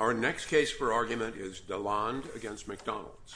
Our next case for argument is Deslandes v. McDonald's. Deslandes v. McDonald's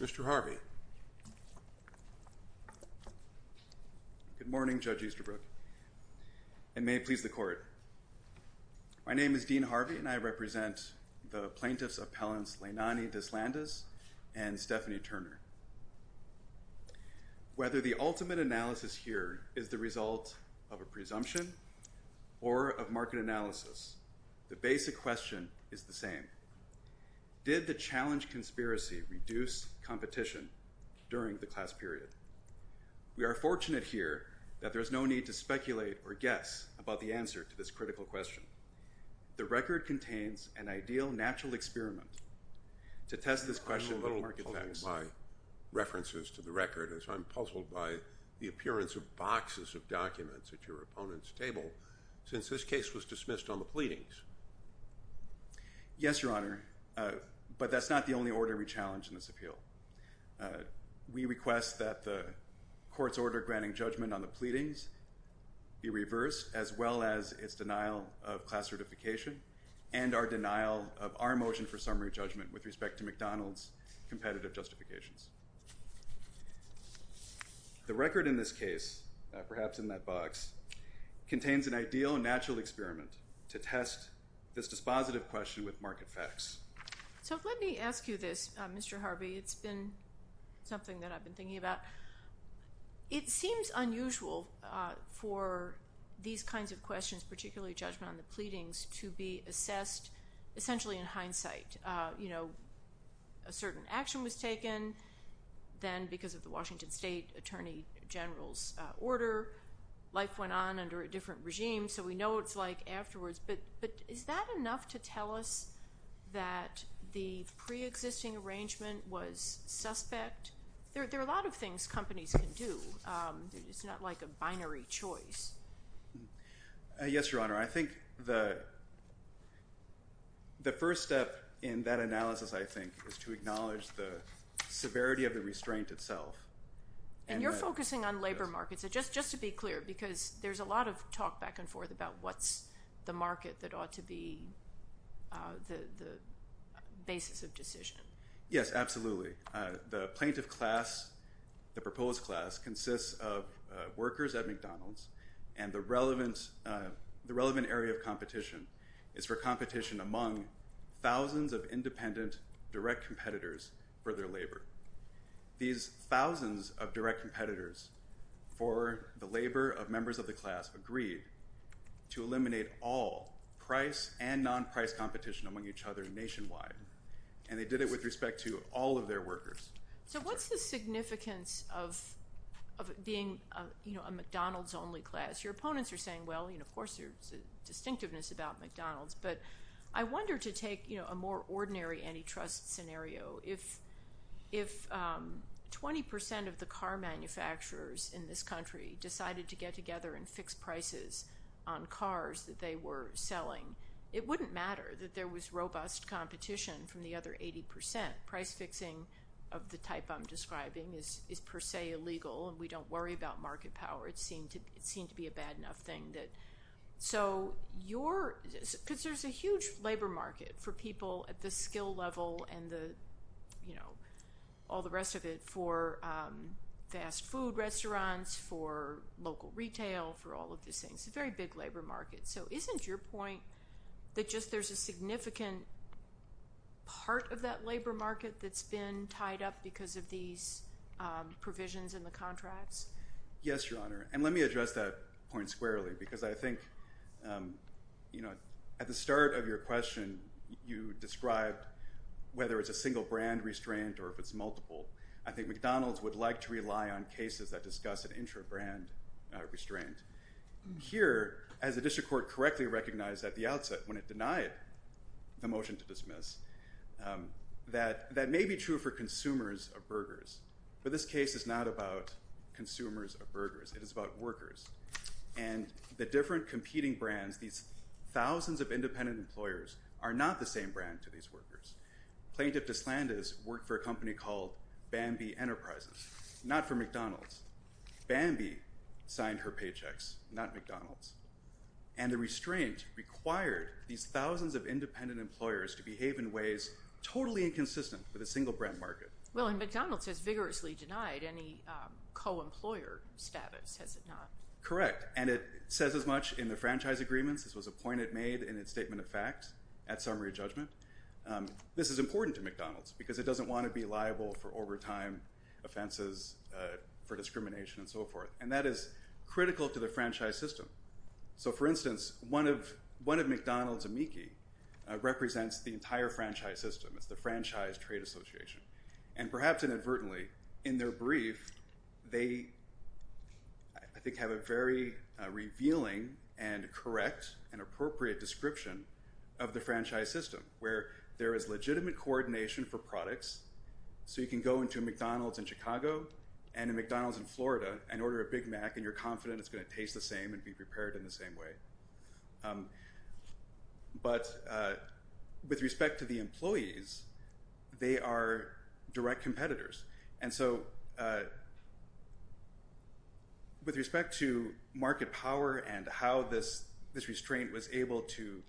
USA LLC Good morning, Judge Easterbrook, and may it please the Court. My name is Dean Harvey and I represent the plaintiffs' appellants Leinani Deslandes and Stephanie Turner. Whether the ultimate analysis here is the result of a presumption or of market analysis, the basic question is the same. Did the challenge conspiracy reduce competition during the class period? We are fortunate here that there is no need to speculate or guess about the answer to this critical question. The record contains an ideal natural experiment to test this question with market factors. I'm a little puzzled by references to the record as I'm puzzled by the appearance of boxes of documents at your opponent's table since this case was dismissed on the pleadings. Yes, Your Honor, but that's not the only order we challenge in this appeal. We request that the Court's order granting judgment on the pleadings be reversed as well as its denial of class certification and our denial of our motion for summary judgment with respect to McDonald's competitive justifications. The record in this case, perhaps in that box, contains an ideal natural experiment to test this dispositive question with market facts. So let me ask you this, Mr. Harvey. It's been something that I've been thinking about. It seems unusual for these kinds of questions, particularly judgment on the pleadings, to be assessed essentially in hindsight. A certain action was taken then because of the Washington State Attorney General's order. Life went on under a different regime, so we know what it's like afterwards. But is that enough to tell us that the preexisting arrangement was suspect? There are a lot of things companies can do. It's not like a binary choice. Yes, Your Honor, I think the first step in that analysis, I think, is to acknowledge the severity of the restraint itself. And you're focusing on labor markets. Just to be clear, because there's a lot of talk back and forth about what's the market that ought to be the basis of decision. Yes, absolutely. The plaintiff class, the proposed class, consists of workers at McDonald's. And the relevant area of competition is for competition among thousands of independent direct competitors for their labor. These thousands of direct competitors for the labor of members of the class agreed to eliminate all price and non-price competition among each other nationwide. And they did it with respect to all of their workers. So what's the significance of being a McDonald's-only class? Your opponents are saying, well, of course, there's a distinctiveness about McDonald's. But I wonder, to take a more ordinary antitrust scenario, if 20 percent of the car manufacturers in this country decided to get together and fix prices on cars that they were selling, it wouldn't matter that there was robust competition from the other 80 percent. Price fixing of the type I'm describing is per se illegal, and we don't worry about market power. It seemed to be a bad enough thing. So your – because there's a huge labor market for people at the skill level and the, you know, all the rest of it for fast food restaurants, for local retail, for all of these things, a very big labor market. So isn't your point that just there's a significant part of that labor market that's been tied up because of these provisions in the contracts? Yes, Your Honor. And let me address that point squarely because I think, you know, at the start of your question, you described whether it's a single brand restraint or if it's multiple. I think McDonald's would like to rely on cases that discuss an intra-brand restraint. Here, as the district court correctly recognized at the outset when it denied the motion to dismiss, that may be true for consumers of burgers, but this case is not about consumers of burgers. It is about workers. And the different competing brands, these thousands of independent employers, are not the same brand to these workers. Plaintiff DeSlanda's worked for a company called Bambi Enterprises, not for McDonald's. Bambi signed her paychecks, not McDonald's. And the restraint required these thousands of independent employers to behave in ways totally inconsistent with a single brand market. Well, and McDonald's has vigorously denied any co-employer status, has it not? Correct. And it says as much in the franchise agreements. This was a point it made in its statement of facts at summary judgment. This is important to McDonald's because it doesn't want to be liable for overtime offenses, for discrimination, and so forth. And that is critical to the franchise system. So, for instance, one of McDonald's amici represents the entire franchise system. It's the Franchise Trade Association. And perhaps inadvertently, in their brief, they, I think, have a very revealing and correct and appropriate description of the franchise system, So you can go into a McDonald's in Chicago and a McDonald's in Florida and order a Big Mac and you're confident it's going to taste the same and be prepared in the same way. But with respect to the employees, they are direct competitors. And so with respect to market power and how this restraint was able to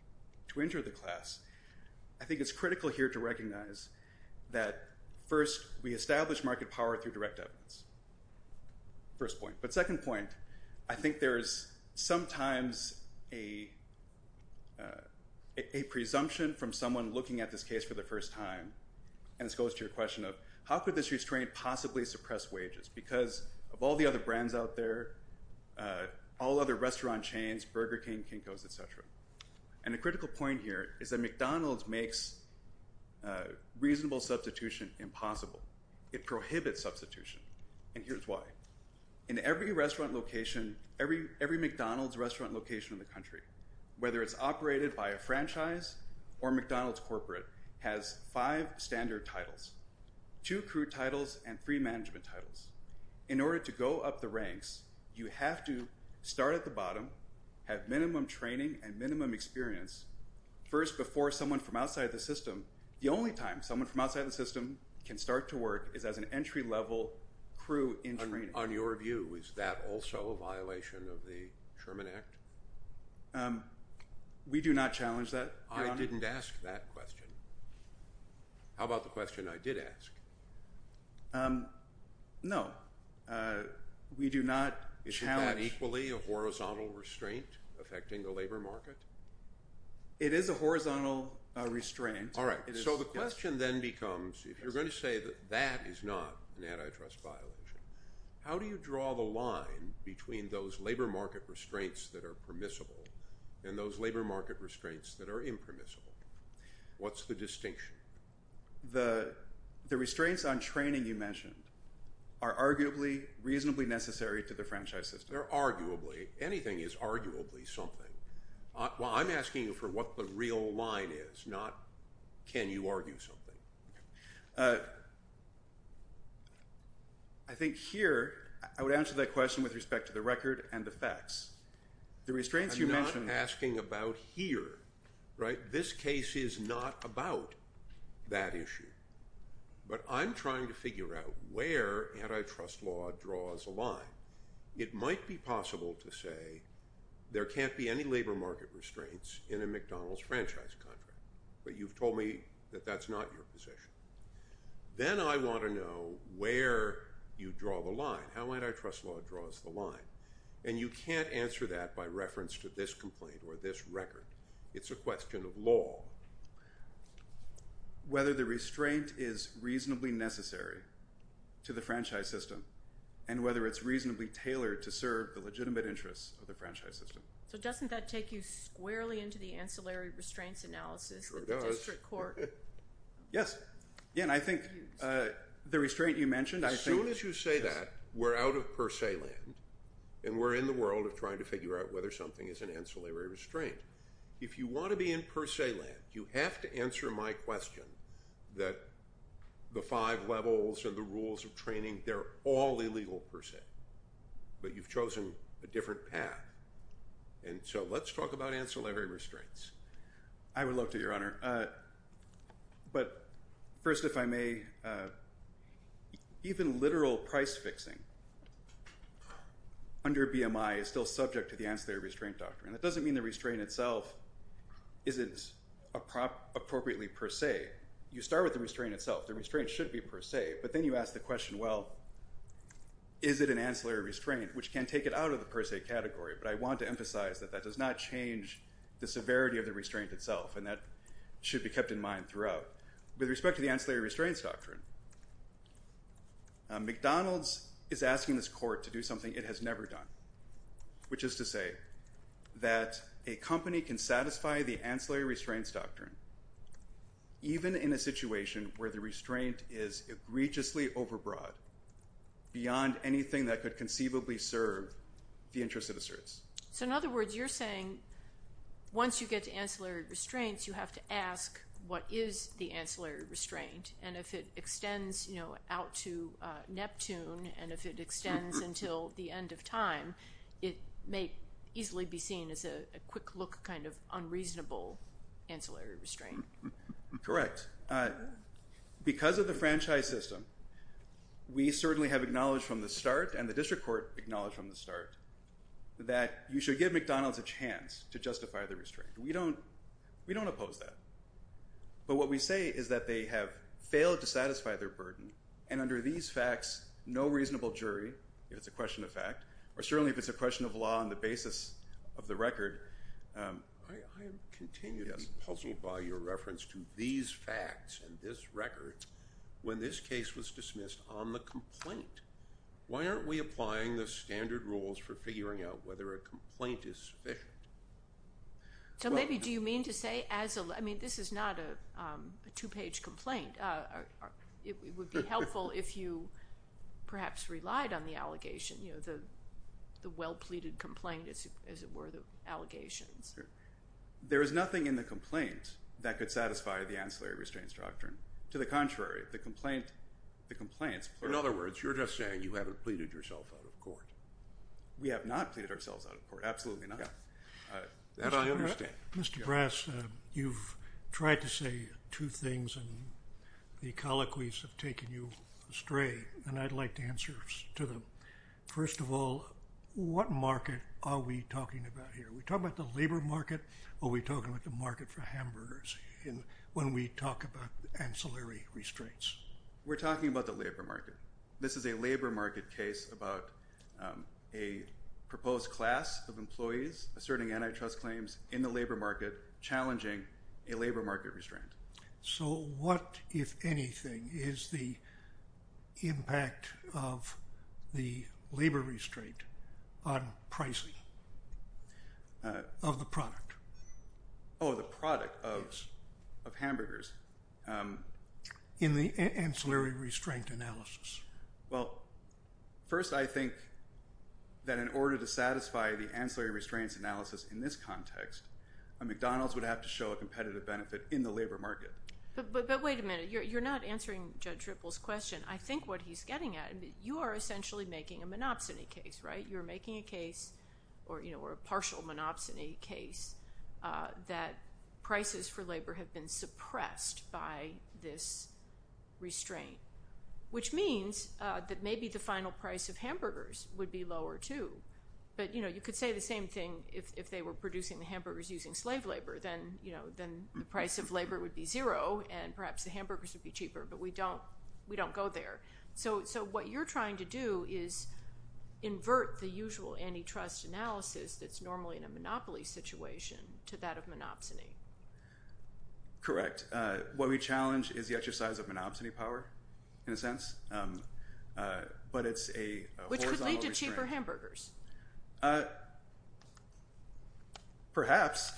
injure the class, I think it's critical here to recognize that, first, we establish market power through direct evidence. First point. But second point, I think there is sometimes a presumption from someone looking at this case for the first time. And this goes to your question of, how could this restraint possibly suppress wages? Because of all the other brands out there, all other restaurant chains, Burger King, Kinko's, et cetera. And a critical point here is that McDonald's makes reasonable substitution impossible. It prohibits substitution. And here's why. In every McDonald's restaurant location in the country, whether it's operated by a franchise or McDonald's corporate, has five standard titles. Two crew titles and three management titles. In order to go up the ranks, you have to start at the bottom, have minimum training and minimum experience. First, before someone from outside the system, the only time someone from outside the system can start to work is as an entry-level crew in training. On your view, is that also a violation of the Sherman Act? We do not challenge that, Your Honor. I didn't ask that question. How about the question I did ask? No. We do not challenge. Is that equally a horizontal restraint affecting the labor market? It is a horizontal restraint. All right. So the question then becomes, if you're going to say that that is not an antitrust violation, how do you draw the line between those labor market restraints that are permissible and those labor market restraints that are impermissible? What's the distinction? The restraints on training you mentioned are arguably reasonably necessary to the franchise system. They're arguably. Anything is arguably something. Well, I'm asking you for what the real line is, not can you argue something. I think here, I would answer that question with respect to the record and the facts. The restraints you mentioned – I'm not asking about here. Right? This case is not about that issue, but I'm trying to figure out where antitrust law draws a line. It might be possible to say there can't be any labor market restraints in a McDonald's franchise contract, but you've told me that that's not your position. Then I want to know where you draw the line, how antitrust law draws the line, and you can't answer that by reference to this complaint or this record. It's a question of law. Whether the restraint is reasonably necessary to the franchise system and whether it's reasonably tailored to serve the legitimate interests of the franchise system. So doesn't that take you squarely into the ancillary restraints analysis that the district court – Sure does. Yes. Again, I think the restraint you mentioned – As soon as you say that, we're out of per se land, and we're in the world of trying to figure out whether something is an ancillary restraint. If you want to be in per se land, you have to answer my question that the five levels and the rules of training, they're all illegal per se, but you've chosen a different path. And so let's talk about ancillary restraints. I would love to, Your Honor. But first, if I may, even literal price fixing under BMI is still subject to the ancillary restraint doctrine. That doesn't mean the restraint itself isn't appropriately per se. You start with the restraint itself. The restraint should be per se, but then you ask the question, well, is it an ancillary restraint, which can take it out of the per se category. But I want to emphasize that that does not change the severity of the restraint itself, and that should be kept in mind throughout. With respect to the ancillary restraints doctrine, McDonald's is asking this court to do something it has never done, which is to say that a company can satisfy the ancillary restraints doctrine even in a situation where the restraint is egregiously overbroad beyond anything that could conceivably serve the interests of the service. So in other words, you're saying once you get to ancillary restraints, you have to ask what is the ancillary restraint, and if it extends out to Neptune, and if it extends until the end of time, it may easily be seen as a quick look kind of unreasonable ancillary restraint. Correct. Because of the franchise system, we certainly have acknowledged from the start, and the district court acknowledged from the start, that you should give McDonald's a chance to justify the restraint. We don't oppose that. But what we say is that they have failed to satisfy their burden, and under these facts, no reasonable jury, if it's a question of fact, or certainly if it's a question of law on the basis of the record. I am continued to be puzzled by your reference to these facts and this record when this case was dismissed on the complaint. Why aren't we applying the standard rules for figuring out whether a complaint is sufficient? So maybe do you mean to say as a – I mean, this is not a two-page complaint. It would be helpful if you perhaps relied on the allegation, you know, the well-pleaded complaint as it were, the allegations. There is nothing in the complaint that could satisfy the ancillary restraints doctrine. To the contrary, the complaint – the complaints – In other words, you're just saying you haven't pleaded yourself out of court. We have not pleaded ourselves out of court, absolutely not. That's what I understand. Mr. Brass, you've tried to say two things, and the colloquies have taken you astray. And I'd like to answer to them. First of all, what market are we talking about here? Are we talking about the labor market or are we talking about the market for hamburgers when we talk about ancillary restraints? We're talking about the labor market. This is a labor market case about a proposed class of employees asserting antitrust claims in the labor market challenging a labor market restraint. So what, if anything, is the impact of the labor restraint on pricing of the product? Oh, the product of hamburgers. In the ancillary restraint analysis. Well, first I think that in order to satisfy the ancillary restraints analysis in this context, a McDonald's would have to show a competitive benefit in the labor market. But wait a minute. You're not answering Judge Ripple's question. I think what he's getting at – you are essentially making a monopsony case, right? Which means that maybe the final price of hamburgers would be lower, too. But you could say the same thing if they were producing the hamburgers using slave labor. Then the price of labor would be zero and perhaps the hamburgers would be cheaper. But we don't go there. So what you're trying to do is invert the usual antitrust analysis that's normally in a monopoly situation to that of monopsony. Correct. What we challenge is the exercise of monopsony power, in a sense. But it's a horizontal restraint. Which could lead to cheaper hamburgers. Perhaps.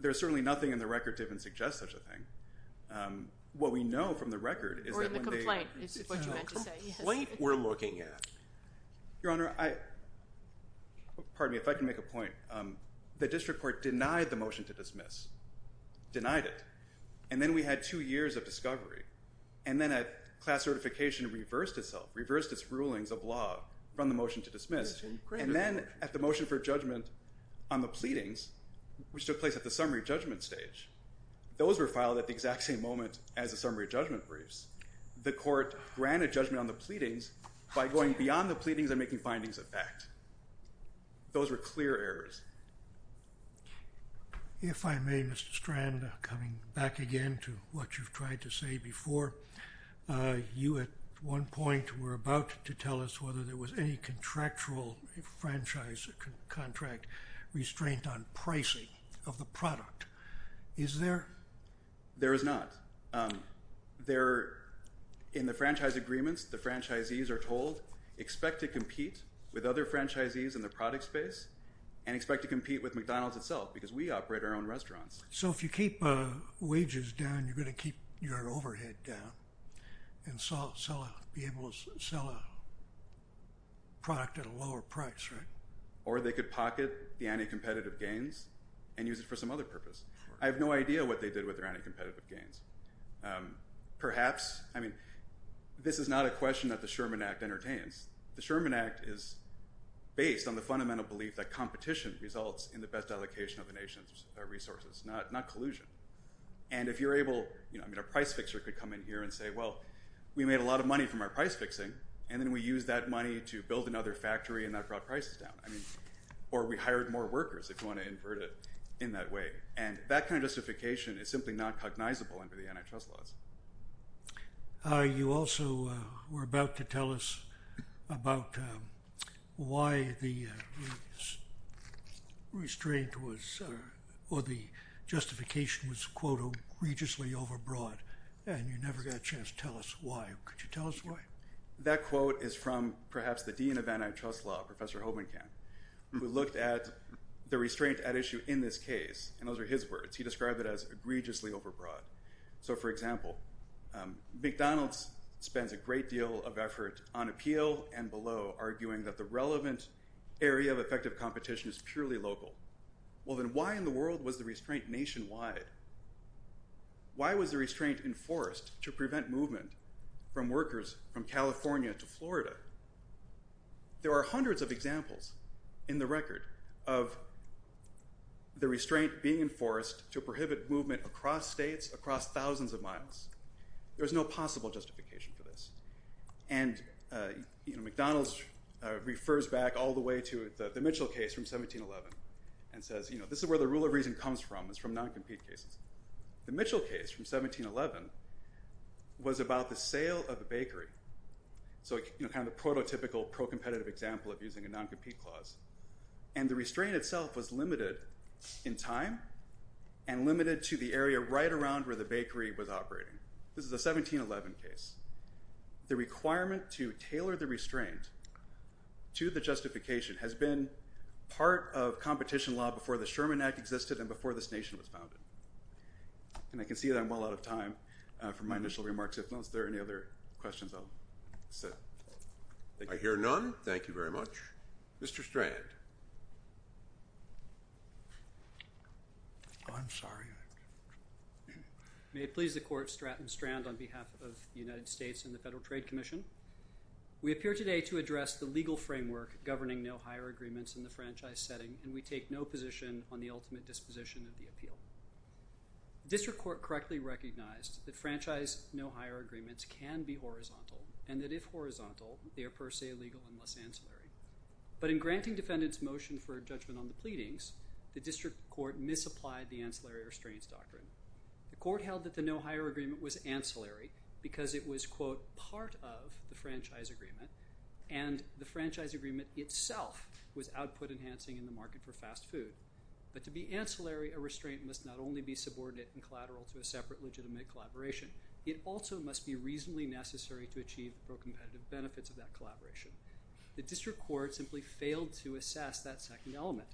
There's certainly nothing in the record to even suggest such a thing. What we know from the record is that when they – Or in the complaint, is what you meant to say. The complaint we're looking at. Your Honor, pardon me if I can make a point. The district court denied the motion to dismiss. Denied it. And then we had two years of discovery. And then a class certification reversed itself, reversed its rulings of law from the motion to dismiss. And then at the motion for judgment on the pleadings, which took place at the summary judgment stage, those were filed at the exact same moment as the summary judgment briefs. The court granted judgment on the pleadings by going beyond the pleadings and making findings of fact. Those were clear errors. If I may, Mr. Strand, coming back again to what you've tried to say before. You, at one point, were about to tell us whether there was any contractual franchise contract restraint on pricing of the product. Is there? There is not. In the franchise agreements, the franchisees are told, expect to compete with other franchisees in the product space and expect to compete with McDonald's itself because we operate our own restaurants. So if you keep wages down, you're going to keep your overhead down and be able to sell a product at a lower price, right? Or they could pocket the anti-competitive gains and use it for some other purpose. I have no idea what they did with their anti-competitive gains. Perhaps, I mean, this is not a question that the Sherman Act entertains. The Sherman Act is based on the fundamental belief that competition results in the best allocation of the nation's resources, not collusion. And if you're able, I mean, a price fixer could come in here and say, well, we made a lot of money from our price fixing, and then we used that money to build another factory and that brought prices down. Or we hired more workers, if you want to invert it in that way. And that kind of justification is simply not cognizable under the antitrust laws. You also were about to tell us about why the restraint was or the justification was, quote, egregiously overbroad and you never got a chance to tell us why. Could you tell us why? That quote is from perhaps the dean of antitrust law, Professor Hobenkamp, who looked at the restraint at issue in this case. And those are his words. He described it as egregiously overbroad. So, for example, McDonald's spends a great deal of effort on appeal and below, arguing that the relevant area of effective competition is purely local. Well, then why in the world was the restraint nationwide? Why was the restraint enforced to prevent movement from workers from California to Florida? There are hundreds of examples in the record of the restraint being enforced to prohibit movement across states, across thousands of miles. There's no possible justification for this. And McDonald's refers back all the way to the Mitchell case from 1711 and says, you know, this is where the rule of reason comes from. It's from non-compete cases. So, you know, kind of prototypical pro-competitive example of using a non-compete clause. And the restraint itself was limited in time and limited to the area right around where the bakery was operating. This is a 1711 case. The requirement to tailor the restraint to the justification has been part of competition law before the Sherman Act existed and before this nation was founded. And I can see that I'm well out of time for my initial remarks. If not, is there any other questions I'll set? I hear none. Thank you very much. Mr. Strand. I'm sorry. May it please the Court, I'm Strand on behalf of the United States and the Federal Trade Commission. We appear today to address the legal framework governing no-hire agreements in the franchise setting, and we take no position on the ultimate disposition of the appeal. The district court correctly recognized that franchise no-hire agreements can be horizontal and that if horizontal, they are per se legal unless ancillary. But in granting defendants' motion for judgment on the pleadings, the district court misapplied the ancillary restraints doctrine. The court held that the no-hire agreement was ancillary because it was, quote, But to be ancillary, a restraint must not only be subordinate and collateral to a separate legitimate collaboration, it also must be reasonably necessary to achieve the pro-competitive benefits of that collaboration. The district court simply failed to assess that second element.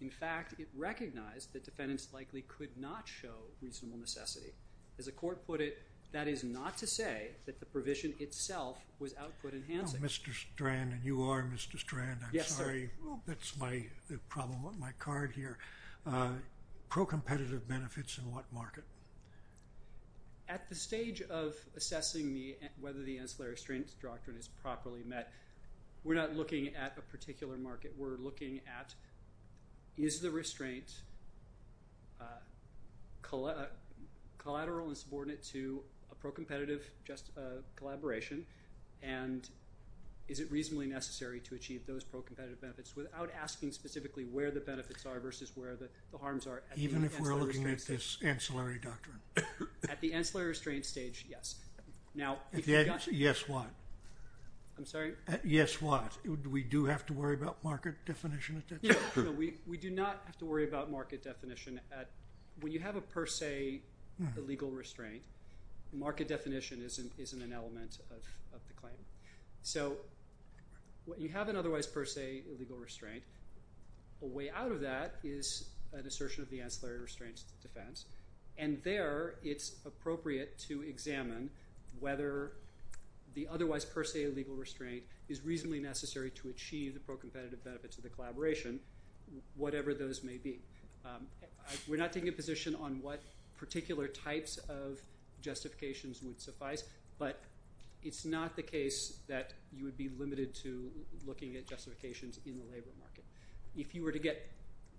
In fact, it recognized that defendants likely could not show reasonable necessity. As the court put it, that is not to say that the provision itself was output-enhancing. Mr. Strand, and you are Mr. Strand, I'm sorry. That's my problem with my card here. Pro-competitive benefits in what market? At the stage of assessing whether the ancillary restraints doctrine is properly met, we're not looking at a particular market. We're looking at is the restraint collateral and subordinate to a pro-competitive collaboration, and is it reasonably necessary to achieve those pro-competitive benefits without asking specifically where the benefits are versus where the harms are at the ancillary restraints stage. Even if we're looking at this ancillary doctrine? At the ancillary restraints stage, yes. Now, if you've got to. At yes what? I'm sorry? At yes what? Do we do have to worry about market definition at that stage? No, we do not have to worry about market definition. When you have a per se illegal restraint, market definition isn't an element of the claim. So you have an otherwise per se illegal restraint. A way out of that is an assertion of the ancillary restraints defense, and there it's appropriate to examine whether the otherwise per se illegal restraint is reasonably necessary to achieve the pro-competitive benefits of the collaboration, whatever those may be. We're not taking a position on what particular types of justifications would suffice, but it's not the case that you would be limited to looking at justifications in the labor market.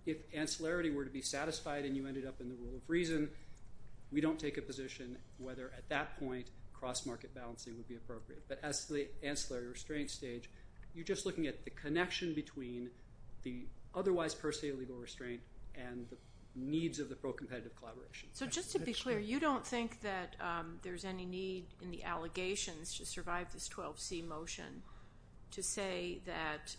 If ancillary were to be satisfied and you ended up in the rule of reason, we don't take a position whether at that point cross-market balancing would be appropriate. But as to the ancillary restraint stage, you're just looking at the connection between the otherwise per se illegal restraint and the needs of the pro-competitive collaboration. So just to be clear, you don't think that there's any need in the allegations to survive this 12C motion to say that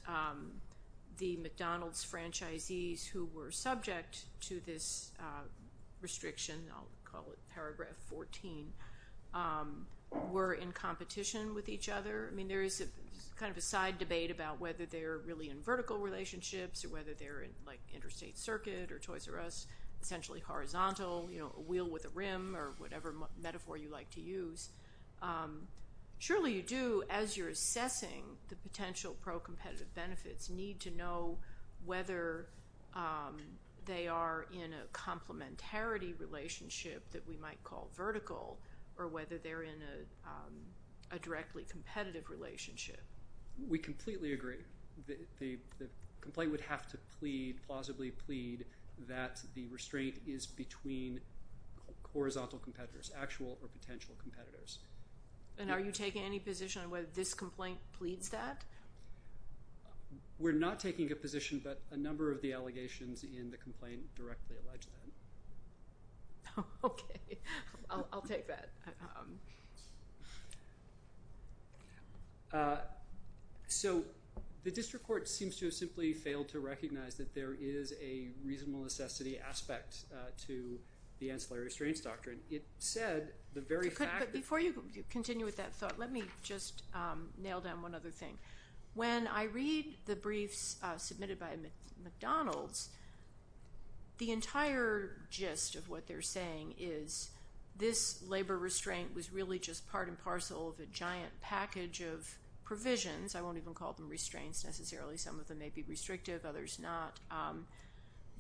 the McDonald's franchisees who were subject to this restriction, I'll call it paragraph 14, were in competition with each other. I mean, there is kind of a side debate about whether they're really in vertical relationships or whether they're in like interstate circuit or choice or us, essentially horizontal, you know, a wheel with a rim or whatever metaphor you like to use. Surely you do, as you're assessing the potential pro-competitive benefits, need to know whether they are in a complementarity relationship that we might call vertical or whether they're in a directly competitive relationship. We completely agree. The complaint would have to plead, plausibly plead, that the restraint is between horizontal competitors, actual or potential competitors. And are you taking any position on whether this complaint pleads that? We're not taking a position, but a number of the allegations in the complaint directly allege that. Okay. I'll take that. So the district court seems to have simply failed to recognize that there is a reasonable necessity aspect to the ancillary restraints doctrine. But before you continue with that thought, let me just nail down one other thing. When I read the briefs submitted by McDonald's, the entire gist of what they're saying is, this labor restraint was really just part and parcel of a giant package of provisions, I won't even call them restraints necessarily, some of them may be restrictive, others not,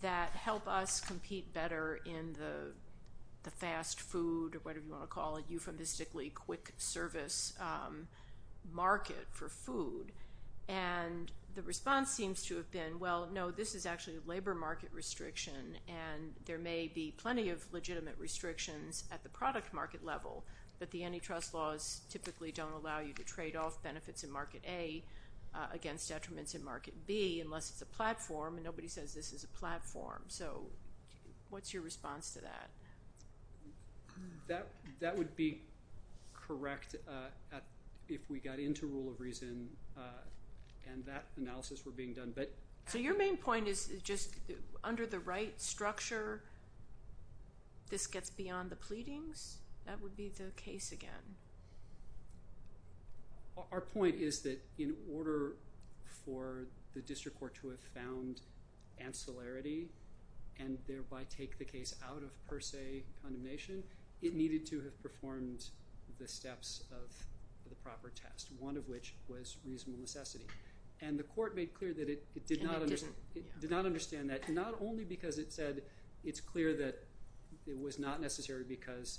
that help us compete better in the fast food or whatever you want to call it, euphemistically quick service market for food. And the response seems to have been, well, no, this is actually a labor market restriction, and there may be plenty of legitimate restrictions at the product market level, but the antitrust laws typically don't allow you to trade off benefits in Market A against detriments in Market B, unless it's a platform, and nobody says this is a platform. So what's your response to that? That would be correct if we got into rule of reason and that analysis were being done. So your main point is just under the right structure, this gets beyond the pleadings? That would be the case again? Our point is that in order for the district court to have found ancillarity and thereby take the case out of per se condemnation, it needed to have performed the steps of the proper test, one of which was reasonable necessity. And the court made clear that it did not understand that, not only because it said it's clear that it was not necessary because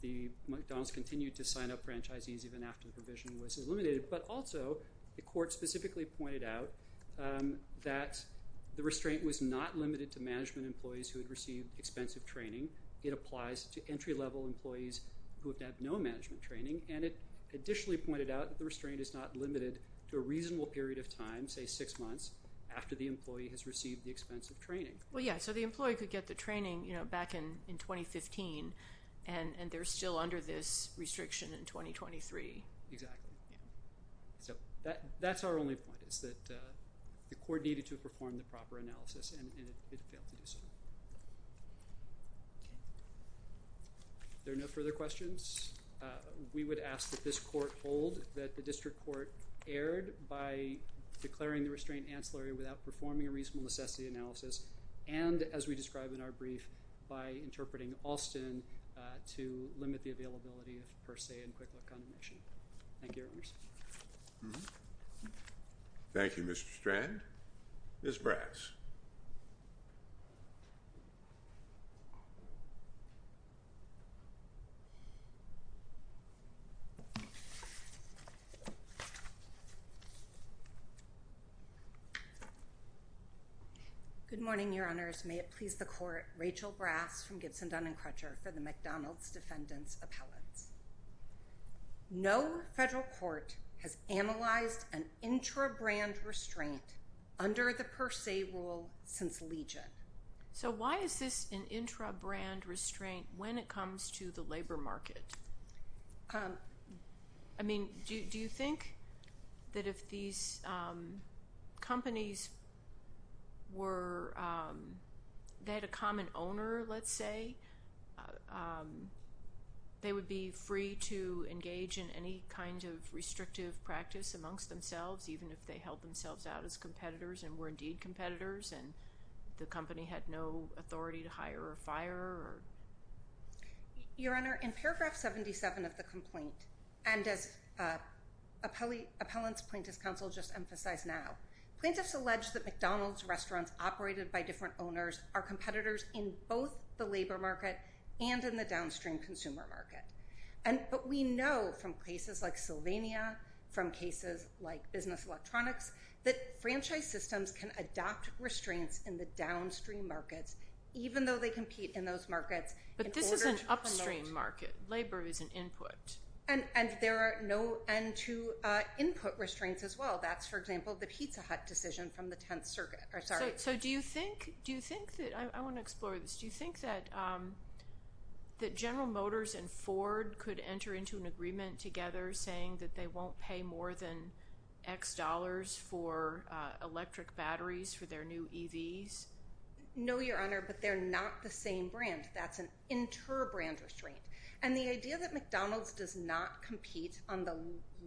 the McDonald's continued to sign up franchisees even after the provision was eliminated, but also the court specifically pointed out that the restraint was not limited to management employees who had received expensive training. It applies to entry-level employees who have had no management training, and it additionally pointed out that the restraint is not limited to a reasonable period of time, say six months, after the employee has received the expensive training. Well, yeah, so the employee could get the training back in 2015, and they're still under this restriction in 2023. Exactly. So that's our only point is that the court needed to perform the proper analysis, and it failed to do so. If there are no further questions, we would ask that this court hold that the district court erred by declaring the restraint ancillary without performing a reasonable necessity analysis and, as we describe in our brief, by interpreting Alston to limit the availability of Per Se and Quick Look Condemnation. Thank you, Your Honors. Thank you, Mr. Strand. Ms. Brass. Good morning, Your Honors. May it please the court, Rachel Brass from Gibson, Dun & Crutcher for the McDonald's Defendants Appellate. No federal court has analyzed an intra-brand restraint under the Per Se rule since Legion. So why is this an intra-brand restraint when it comes to the labor market? I mean, do you think that if these companies were they had a common owner, let's say, they would be free to engage in any kind of restrictive practice amongst themselves, even if they held themselves out as competitors and were indeed competitors and the company had no authority to hire or fire? Your Honor, in paragraph 77 of the complaint, and as appellants' plaintiffs' counsel just emphasized now, plaintiffs allege that McDonald's restaurants operated by different owners are competitors in both the labor market and in the downstream consumer market. But we know from cases like Sylvania, from cases like Business Electronics, that franchise systems can adopt restraints in the downstream markets even though they compete in those markets. But this is an upstream market. Labor is an input. And there are no end to input restraints as well. That's, for example, the Pizza Hut decision from the Tenth Circuit. So do you think that—I want to explore this. Do you think that General Motors and Ford could enter into an agreement together saying that they won't pay more than X dollars for electric batteries for their new EVs? No, Your Honor, but they're not the same brand. That's an inter-brand restraint. And the idea that McDonald's does not compete on the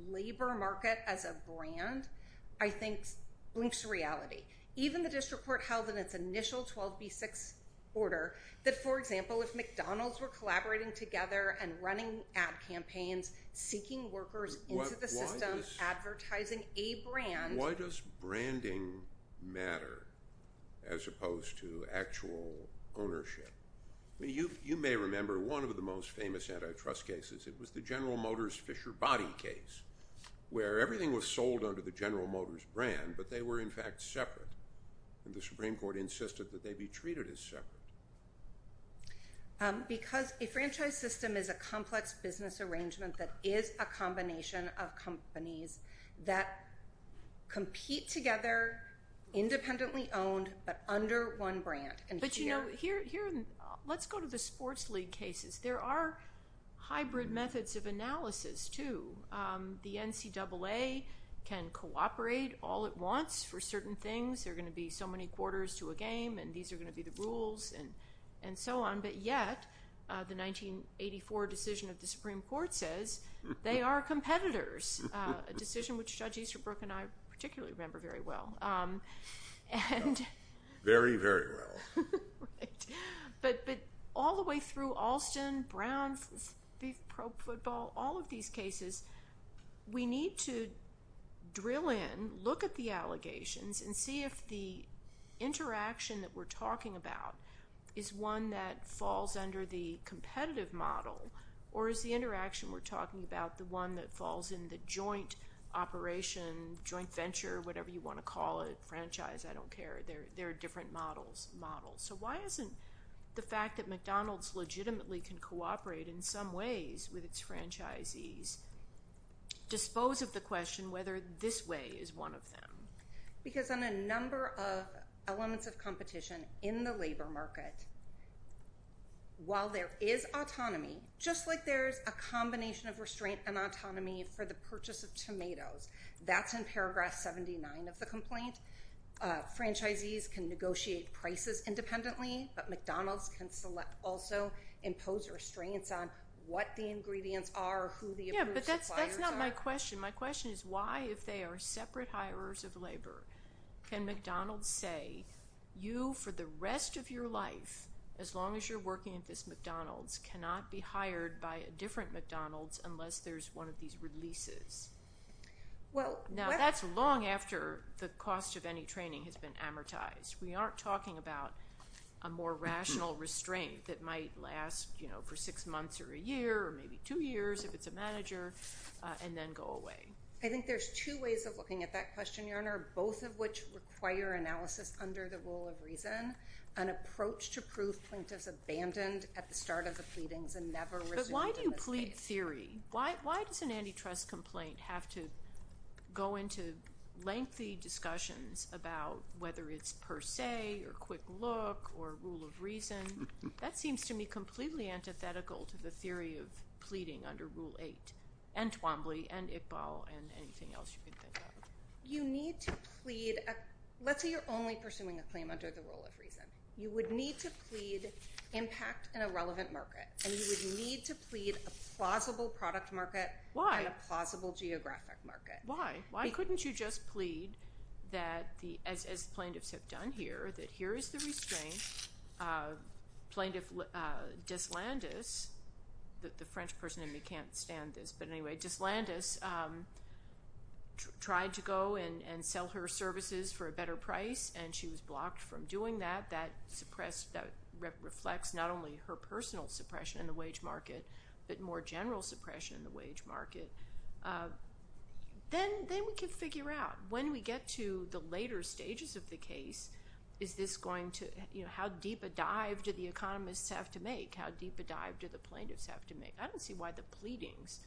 labor market as a brand, I think, blinks reality. Even the district court held in its initial 12B6 order that, for example, if McDonald's were collaborating together and running ad campaigns, seeking workers into the system, advertising a brand— Why does branding matter as opposed to actual ownership? You may remember one of the most famous antitrust cases. It was the General Motors Fisher Body case where everything was sold under the General Motors brand, but they were, in fact, separate. And the Supreme Court insisted that they be treated as separate. Because a franchise system is a complex business arrangement that is a combination of companies that compete together, independently owned, but under one brand. But, you know, let's go to the Sports League cases. There are hybrid methods of analysis, too. The NCAA can cooperate all at once for certain things. There are going to be so many quarters to a game, and these are going to be the rules, and so on. But yet, the 1984 decision of the Supreme Court says they are competitors, a decision which Judge Easterbrook and I particularly remember very well. Very, very well. But all the way through Alston, Brown, Pro Football, all of these cases, we need to drill in, look at the allegations, and see if the interaction that we're talking about is one that falls under the competitive model or is the interaction we're talking about the one that falls in the joint operation, joint venture, whatever you want to call it, franchise, I don't care. There are different models. So why isn't the fact that McDonald's legitimately can cooperate in some ways with its franchisees dispose of the question whether this way is one of them? Because on a number of elements of competition in the labor market, while there is autonomy, just like there's a combination of restraint and autonomy for the purchase of tomatoes. That's in paragraph 79 of the complaint. Franchisees can negotiate prices independently, but McDonald's can also impose restraints on what the ingredients are, who the approved suppliers are. Yeah, but that's not my question. My question is why, if they are separate hirers of labor, can McDonald's say, you, for the rest of your life, as long as you're working at this McDonald's, cannot be hired by a different McDonald's unless there's one of these releases? Now, that's long after the cost of any training has been amortized. We aren't talking about a more rational restraint that might last for six months or a year or maybe two years if it's a manager and then go away. I think there's two ways of looking at that question, Your Honor, both of which require analysis under the rule of reason, an approach to prove plaintiffs abandoned at the start of the pleadings and never resumed in this case. But why do you plead theory? Why does an antitrust complaint have to go into lengthy discussions about whether it's per se or quick look or rule of reason? That seems to me completely antithetical to the theory of pleading under Rule 8 and Twombly and Iqbal and anything else you can think of. You need to plead. Let's say you're only pursuing a claim under the rule of reason. You would need to plead impact in a relevant market and you would need to plead a plausible product market and a plausible geographic market. Why? Why couldn't you just plead that, as plaintiffs have done here, that here is the restraint. Plaintiff Deslandes, the French person in me can't stand this, but anyway, Deslandes tried to go and sell her services for a better price and she was blocked from doing that. That reflects not only her personal suppression in the wage market but more general suppression in the wage market. Then we can figure out, when we get to the later stages of the case, is this going to, you know, how deep a dive do the economists have to make? How deep a dive do the plaintiffs have to make? I don't see why the pleadings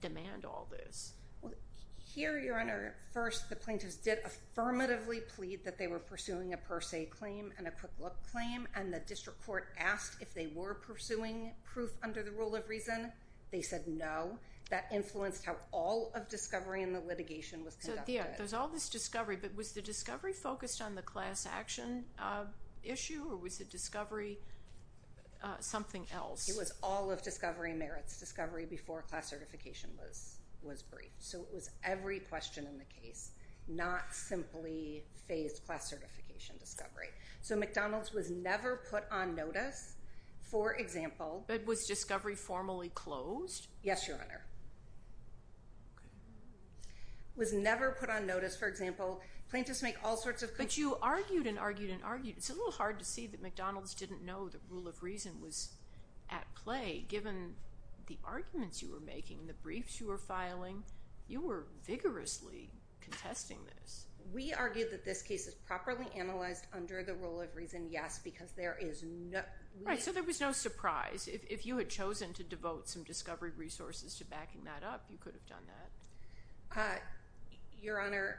demand all this. Well, here, Your Honor, first the plaintiffs did affirmatively plead that they were pursuing a per se claim and a quick look claim and the district court asked if they were pursuing proof under the rule of reason. They said no. That influenced how all of discovery in the litigation was conducted. So there's all this discovery, but was the discovery focused on the class action issue or was the discovery something else? It was all of discovery merits. Discovery before class certification was briefed. So it was every question in the case, not simply phased class certification discovery. So McDonald's was never put on notice. For example— But was discovery formally closed? Yes, Your Honor. It was never put on notice. But you argued and argued and argued. It's a little hard to see that McDonald's didn't know the rule of reason was at play. Given the arguments you were making, the briefs you were filing, you were vigorously contesting this. We argued that this case is properly analyzed under the rule of reason, yes, because there is no— Right, so there was no surprise. If you had chosen to devote some discovery resources to backing that up, you could have done that. Your Honor,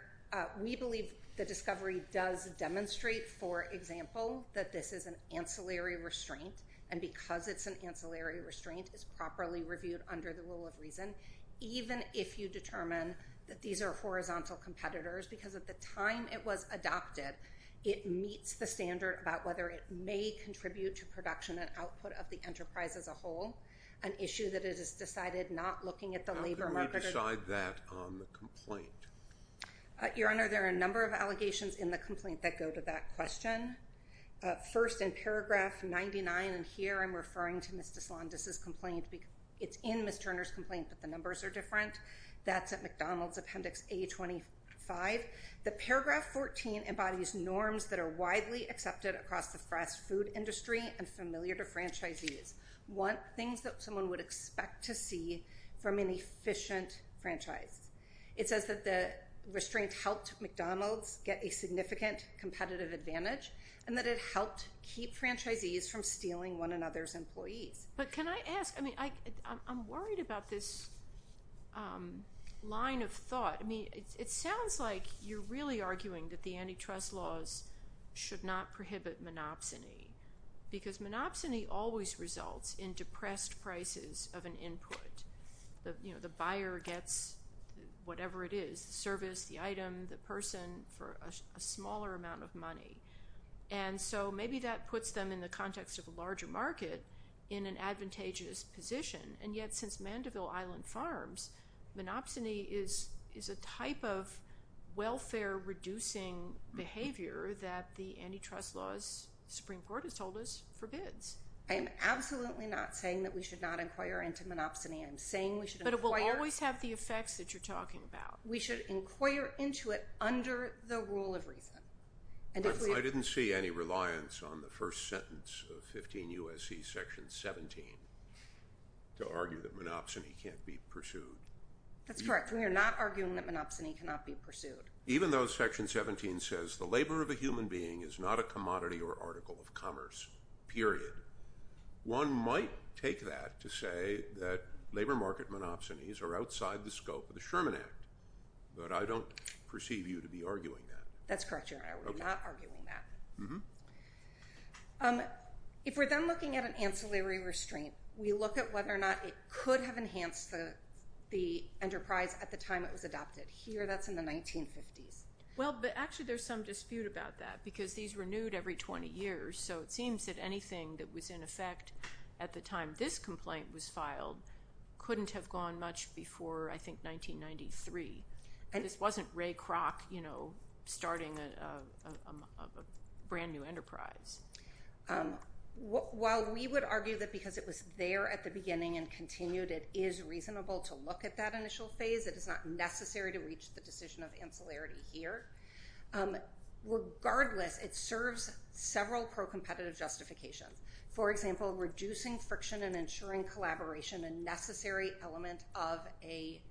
we believe the discovery does demonstrate, for example, that this is an ancillary restraint, and because it's an ancillary restraint, it's properly reviewed under the rule of reason, even if you determine that these are horizontal competitors, because at the time it was adopted, it meets the standard about whether it may contribute to production and output of the enterprise as a whole, an issue that it has decided not looking at the labor market— Your Honor, there are a number of allegations in the complaint that go to that question. First, in paragraph 99, and here I'm referring to Ms. Deslandez's complaint. It's in Ms. Turner's complaint, but the numbers are different. That's at McDonald's, appendix A25. The paragraph 14 embodies norms that are widely accepted across the fast food industry and familiar to franchisees, things that someone would expect to see from an efficient franchise. It says that the restraint helped McDonald's get a significant competitive advantage and that it helped keep franchisees from stealing one another's employees. But can I ask—I mean, I'm worried about this line of thought. I mean, it sounds like you're really arguing that the antitrust laws should not prohibit monopsony, because monopsony always results in depressed prices of an input. The buyer gets whatever it is, the service, the item, the person, for a smaller amount of money. And so maybe that puts them in the context of a larger market in an advantageous position, and yet since Mandeville Island Farms, monopsony is a type of welfare-reducing behavior that the antitrust laws the Supreme Court has told us forbids. I am absolutely not saying that we should not inquire into monopsony. I'm saying we should inquire— But it will always have the effects that you're talking about. We should inquire into it under the rule of reason. I didn't see any reliance on the first sentence of 15 U.S.C. section 17 to argue that monopsony can't be pursued. Even though section 17 says the labor of a human being is not a commodity or article of commerce, period, one might take that to say that labor market monopsonies are outside the scope of the Sherman Act, but I don't perceive you to be arguing that. That's correct, Your Honor. We're not arguing that. If we're then looking at an ancillary restraint, we look at whether or not it could have enhanced the enterprise at the time it was adopted. Here, that's in the 1950s. Well, but actually there's some dispute about that because these renewed every 20 years, so it seems that anything that was in effect at the time this complaint was filed couldn't have gone much before, I think, 1993. This wasn't Ray Kroc starting a brand new enterprise. While we would argue that because it was there at the beginning and continued, it is reasonable to look at that initial phase, it is not necessary to reach the decision of ancillary here. Regardless, it serves several pro-competitive justifications. For example, reducing friction and ensuring collaboration, a necessary element of a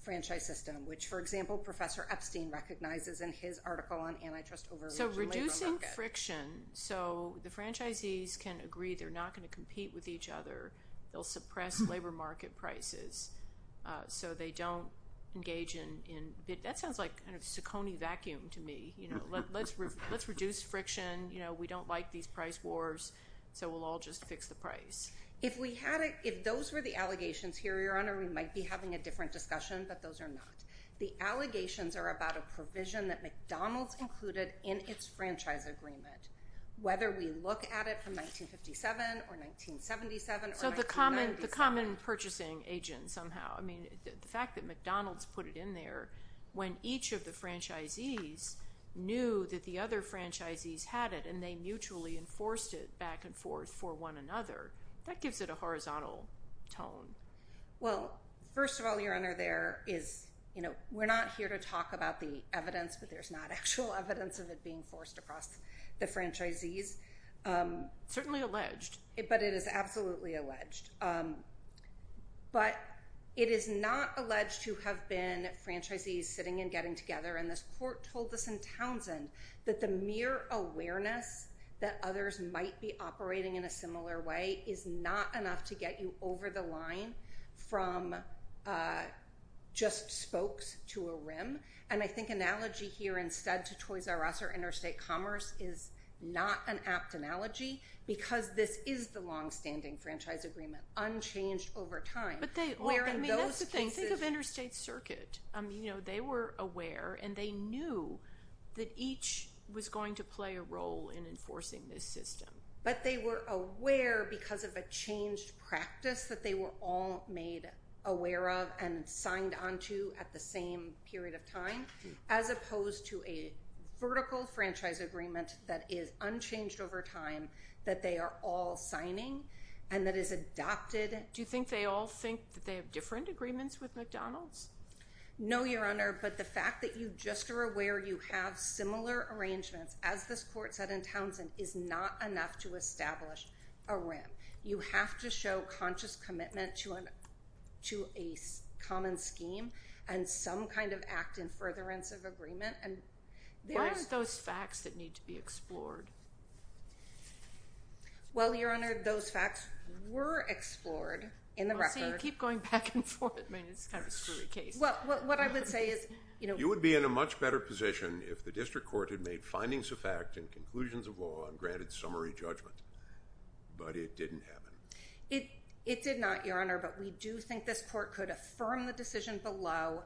franchise system, which, for example, Professor Epstein recognizes in his article on antitrust over labor market. So reducing friction, so the franchisees can agree they're not going to compete with each other. They'll suppress labor market prices so they don't engage in, that sounds like kind of a Saccone vacuum to me. Let's reduce friction. We don't like these price wars, so we'll all just fix the price. If those were the allegations here, Your Honor, we might be having a different discussion, but those are not. The allegations are about a provision that McDonald's included in its franchise agreement, whether we look at it from 1957 or 1977 or 1997. So the common purchasing agent somehow, I mean, the fact that McDonald's put it in there, when each of the franchisees knew that the other franchisees had it and they mutually enforced it back and forth for one another, that gives it a horizontal tone. Well, first of all, Your Honor, there is, you know, we're not here to talk about the evidence, but there's not actual evidence of it being forced across the franchisees. Certainly alleged. But it is absolutely alleged. But it is not alleged to have been franchisees sitting and getting together, and this court told us in Townsend that the mere awareness that others might be operating in a similar way is not enough to get you over the line from just spokes to a rim. And I think analogy here instead to Toys R Us or Interstate Commerce is not an apt analogy because this is the longstanding franchise agreement, unchanged over time. That's the thing. Think of Interstate Circuit. You know, they were aware, and they knew that each was going to play a role in enforcing this system. But they were aware because of a changed practice that they were all made aware of and signed on to at the same period of time, as opposed to a vertical franchise agreement that is unchanged over time that they are all signing and that is adopted. Do you think they all think that they have different agreements with McDonald's? No, Your Honor, but the fact that you just are aware you have similar arrangements, as this court said in Townsend, is not enough to establish a rim. You have to show conscious commitment to a common scheme and some kind of act in furtherance of agreement. Why aren't those facts that need to be explored? Well, Your Honor, those facts were explored in the record. Well, so you keep going back and forth. I mean, it's kind of a screwy case. Well, what I would say is, you know. You would be in a much better position if the district court had made findings of fact and conclusions of law and granted summary judgment. But it didn't happen. It did not, Your Honor, but we do think this court could affirm the decision below,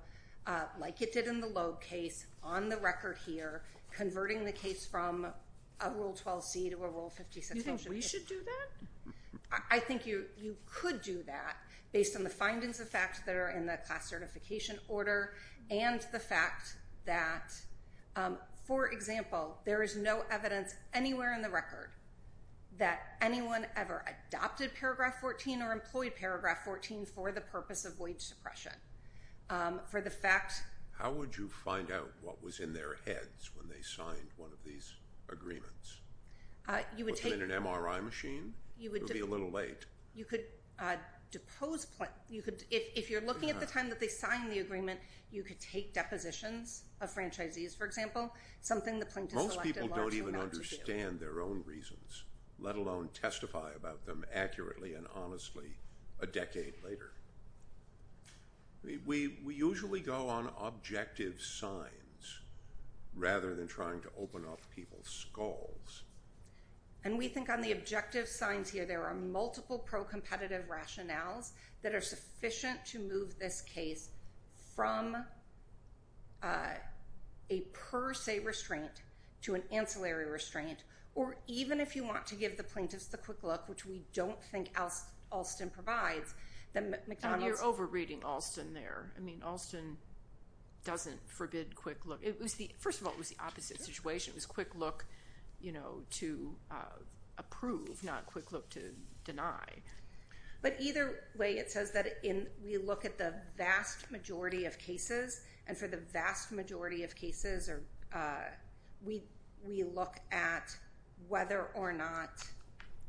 like it did in the Loeb case, on the record here, converting the case from a Rule 12c to a Rule 56 motion. Do you think we should do that? I think you could do that, based on the findings of fact that are in the class certification order and the fact that, for example, there is no evidence anywhere in the record that anyone ever adopted Paragraph 14 or employed Paragraph 14 for the purpose of wage suppression. How would you find out what was in their heads when they signed one of these agreements? Was it in an MRI machine? It would be a little late. You could depose Plink. If you're looking at the time that they signed the agreement, you could take depositions of franchisees, for example, something that Plink has selected a large amount to do. Most people don't even understand their own reasons, let alone testify about them accurately and honestly a decade later. We usually go on objective signs rather than trying to open up people's skulls. We think on the objective signs here, there are multiple pro-competitive rationales that are sufficient to move this case from a per se restraint to an ancillary restraint, or even if you want to give the plaintiffs the quick look, which we don't think Alston provides. You're over-reading Alston there. Alston doesn't forbid quick look. First of all, it was the opposite situation. It was quick look to approve, not quick look to deny. But either way, it says that we look at the vast majority of cases, and for the vast majority of cases we look at whether or not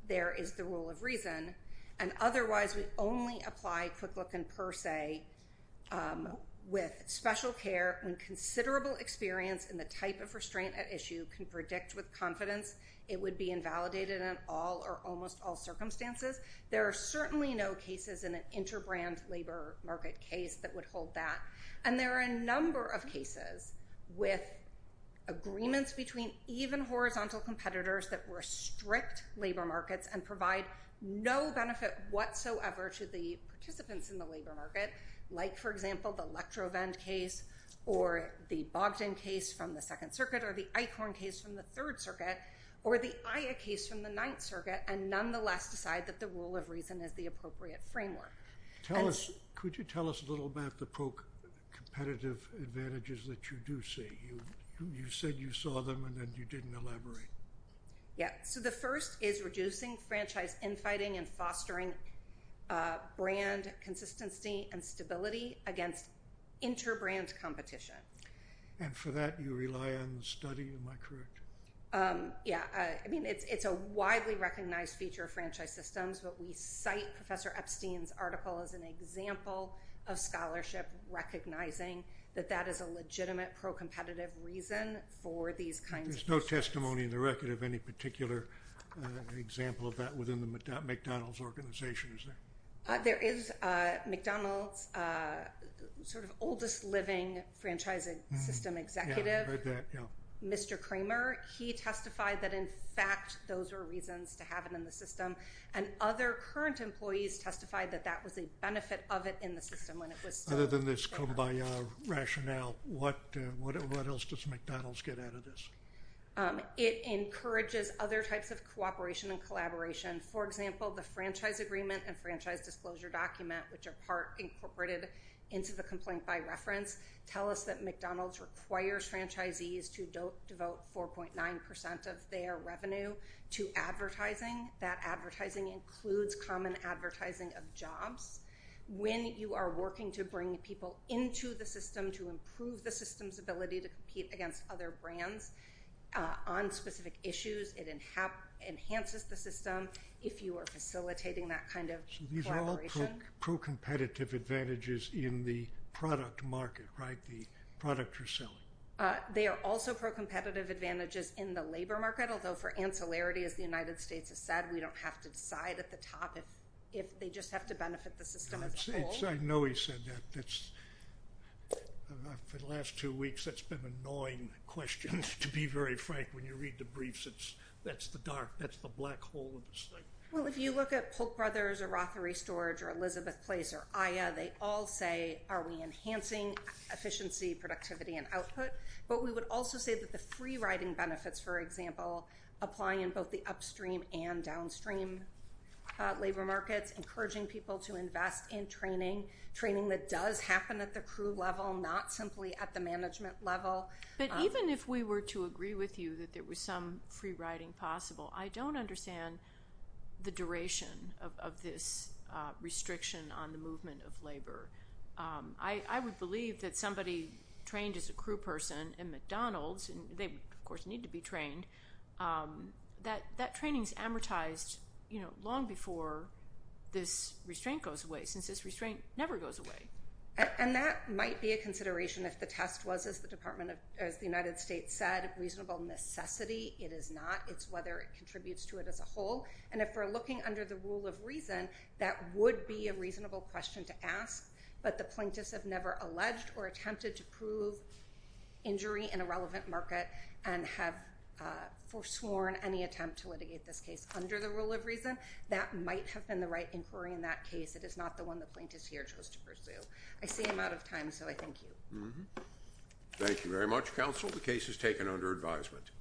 there is the rule of reason, and otherwise we only apply quick look in per se with special care when considerable experience in the type of restraint at issue can predict with confidence it would be invalidated in all or almost all circumstances. There are certainly no cases in an interbrand labor market case that would hold that, and there are a number of cases with agreements between even horizontal competitors that restrict labor markets and provide no benefit whatsoever to the participants in the labor market, like, for example, the Lectrovend case, or the Bogdan case from the Second Circuit, or the Eichhorn case from the Third Circuit, or the Aya case from the Ninth Circuit, and nonetheless decide that the rule of reason is the appropriate framework. Could you tell us a little about the competitive advantages that you do see? You said you saw them, and then you didn't elaborate. Yeah, so the first is reducing franchise infighting and fostering brand consistency and stability against interbrand competition. And for that you rely on the study, am I correct? Yeah, I mean, it's a widely recognized feature of franchise systems, but we cite Professor Epstein's article as an example of scholarship recognizing that that is a legitimate pro-competitive reason for these kinds of cases. There's no testimony in the record of any particular example of that within the McDonald's organization, is there? There is McDonald's sort of oldest living franchising system executive, Mr. Kramer. He testified that, in fact, those were reasons to have it in the system, and other current employees testified that that was a benefit of it in the system when it was still there. Rather than this come by rationale, what else does McDonald's get out of this? It encourages other types of cooperation and collaboration. For example, the franchise agreement and franchise disclosure document, which are part incorporated into the complaint by reference, tell us that McDonald's requires franchisees to devote 4.9% of their revenue to advertising. That advertising includes common advertising of jobs. When you are working to bring people into the system to improve the system's ability to compete against other brands on specific issues, it enhances the system if you are facilitating that kind of collaboration. So these are all pro-competitive advantages in the product market, right? The product you're selling. They are also pro-competitive advantages in the labor market, although for ancillarity, as the United States has said, we don't have to decide at the top if they just have to benefit the system as a whole. I know he said that. For the last two weeks, that's been an annoying question, to be very frank. When you read the briefs, that's the dark, that's the black hole of this thing. Well, if you look at Polk Brothers or Rothery Storage or Elizabeth Place or Aya, they all say, are we enhancing efficiency, productivity, and output? But we would also say that the free riding benefits, for example, apply in both the upstream and downstream labor markets, encouraging people to invest in training, training that does happen at the crew level, not simply at the management level. But even if we were to agree with you that there was some free riding possible, I don't understand the duration of this restriction on the movement of labor. I would believe that somebody trained as a crew person in McDonald's, and they, of course, need to be trained, that that training is amortized long before this restraint goes away, since this restraint never goes away. And that might be a consideration if the test was, as the United States said, reasonable necessity. It is not. It's whether it contributes to it as a whole. And if we're looking under the rule of reason, that would be a reasonable question to ask. But the plaintiffs have never alleged or attempted to prove injury in a relevant market and have forsworn any attempt to litigate this case under the rule of reason. That might have been the right inquiry in that case. It is not the one the plaintiffs here chose to pursue. I see I'm out of time, so I thank you. Thank you very much, counsel. The case is taken under advisement.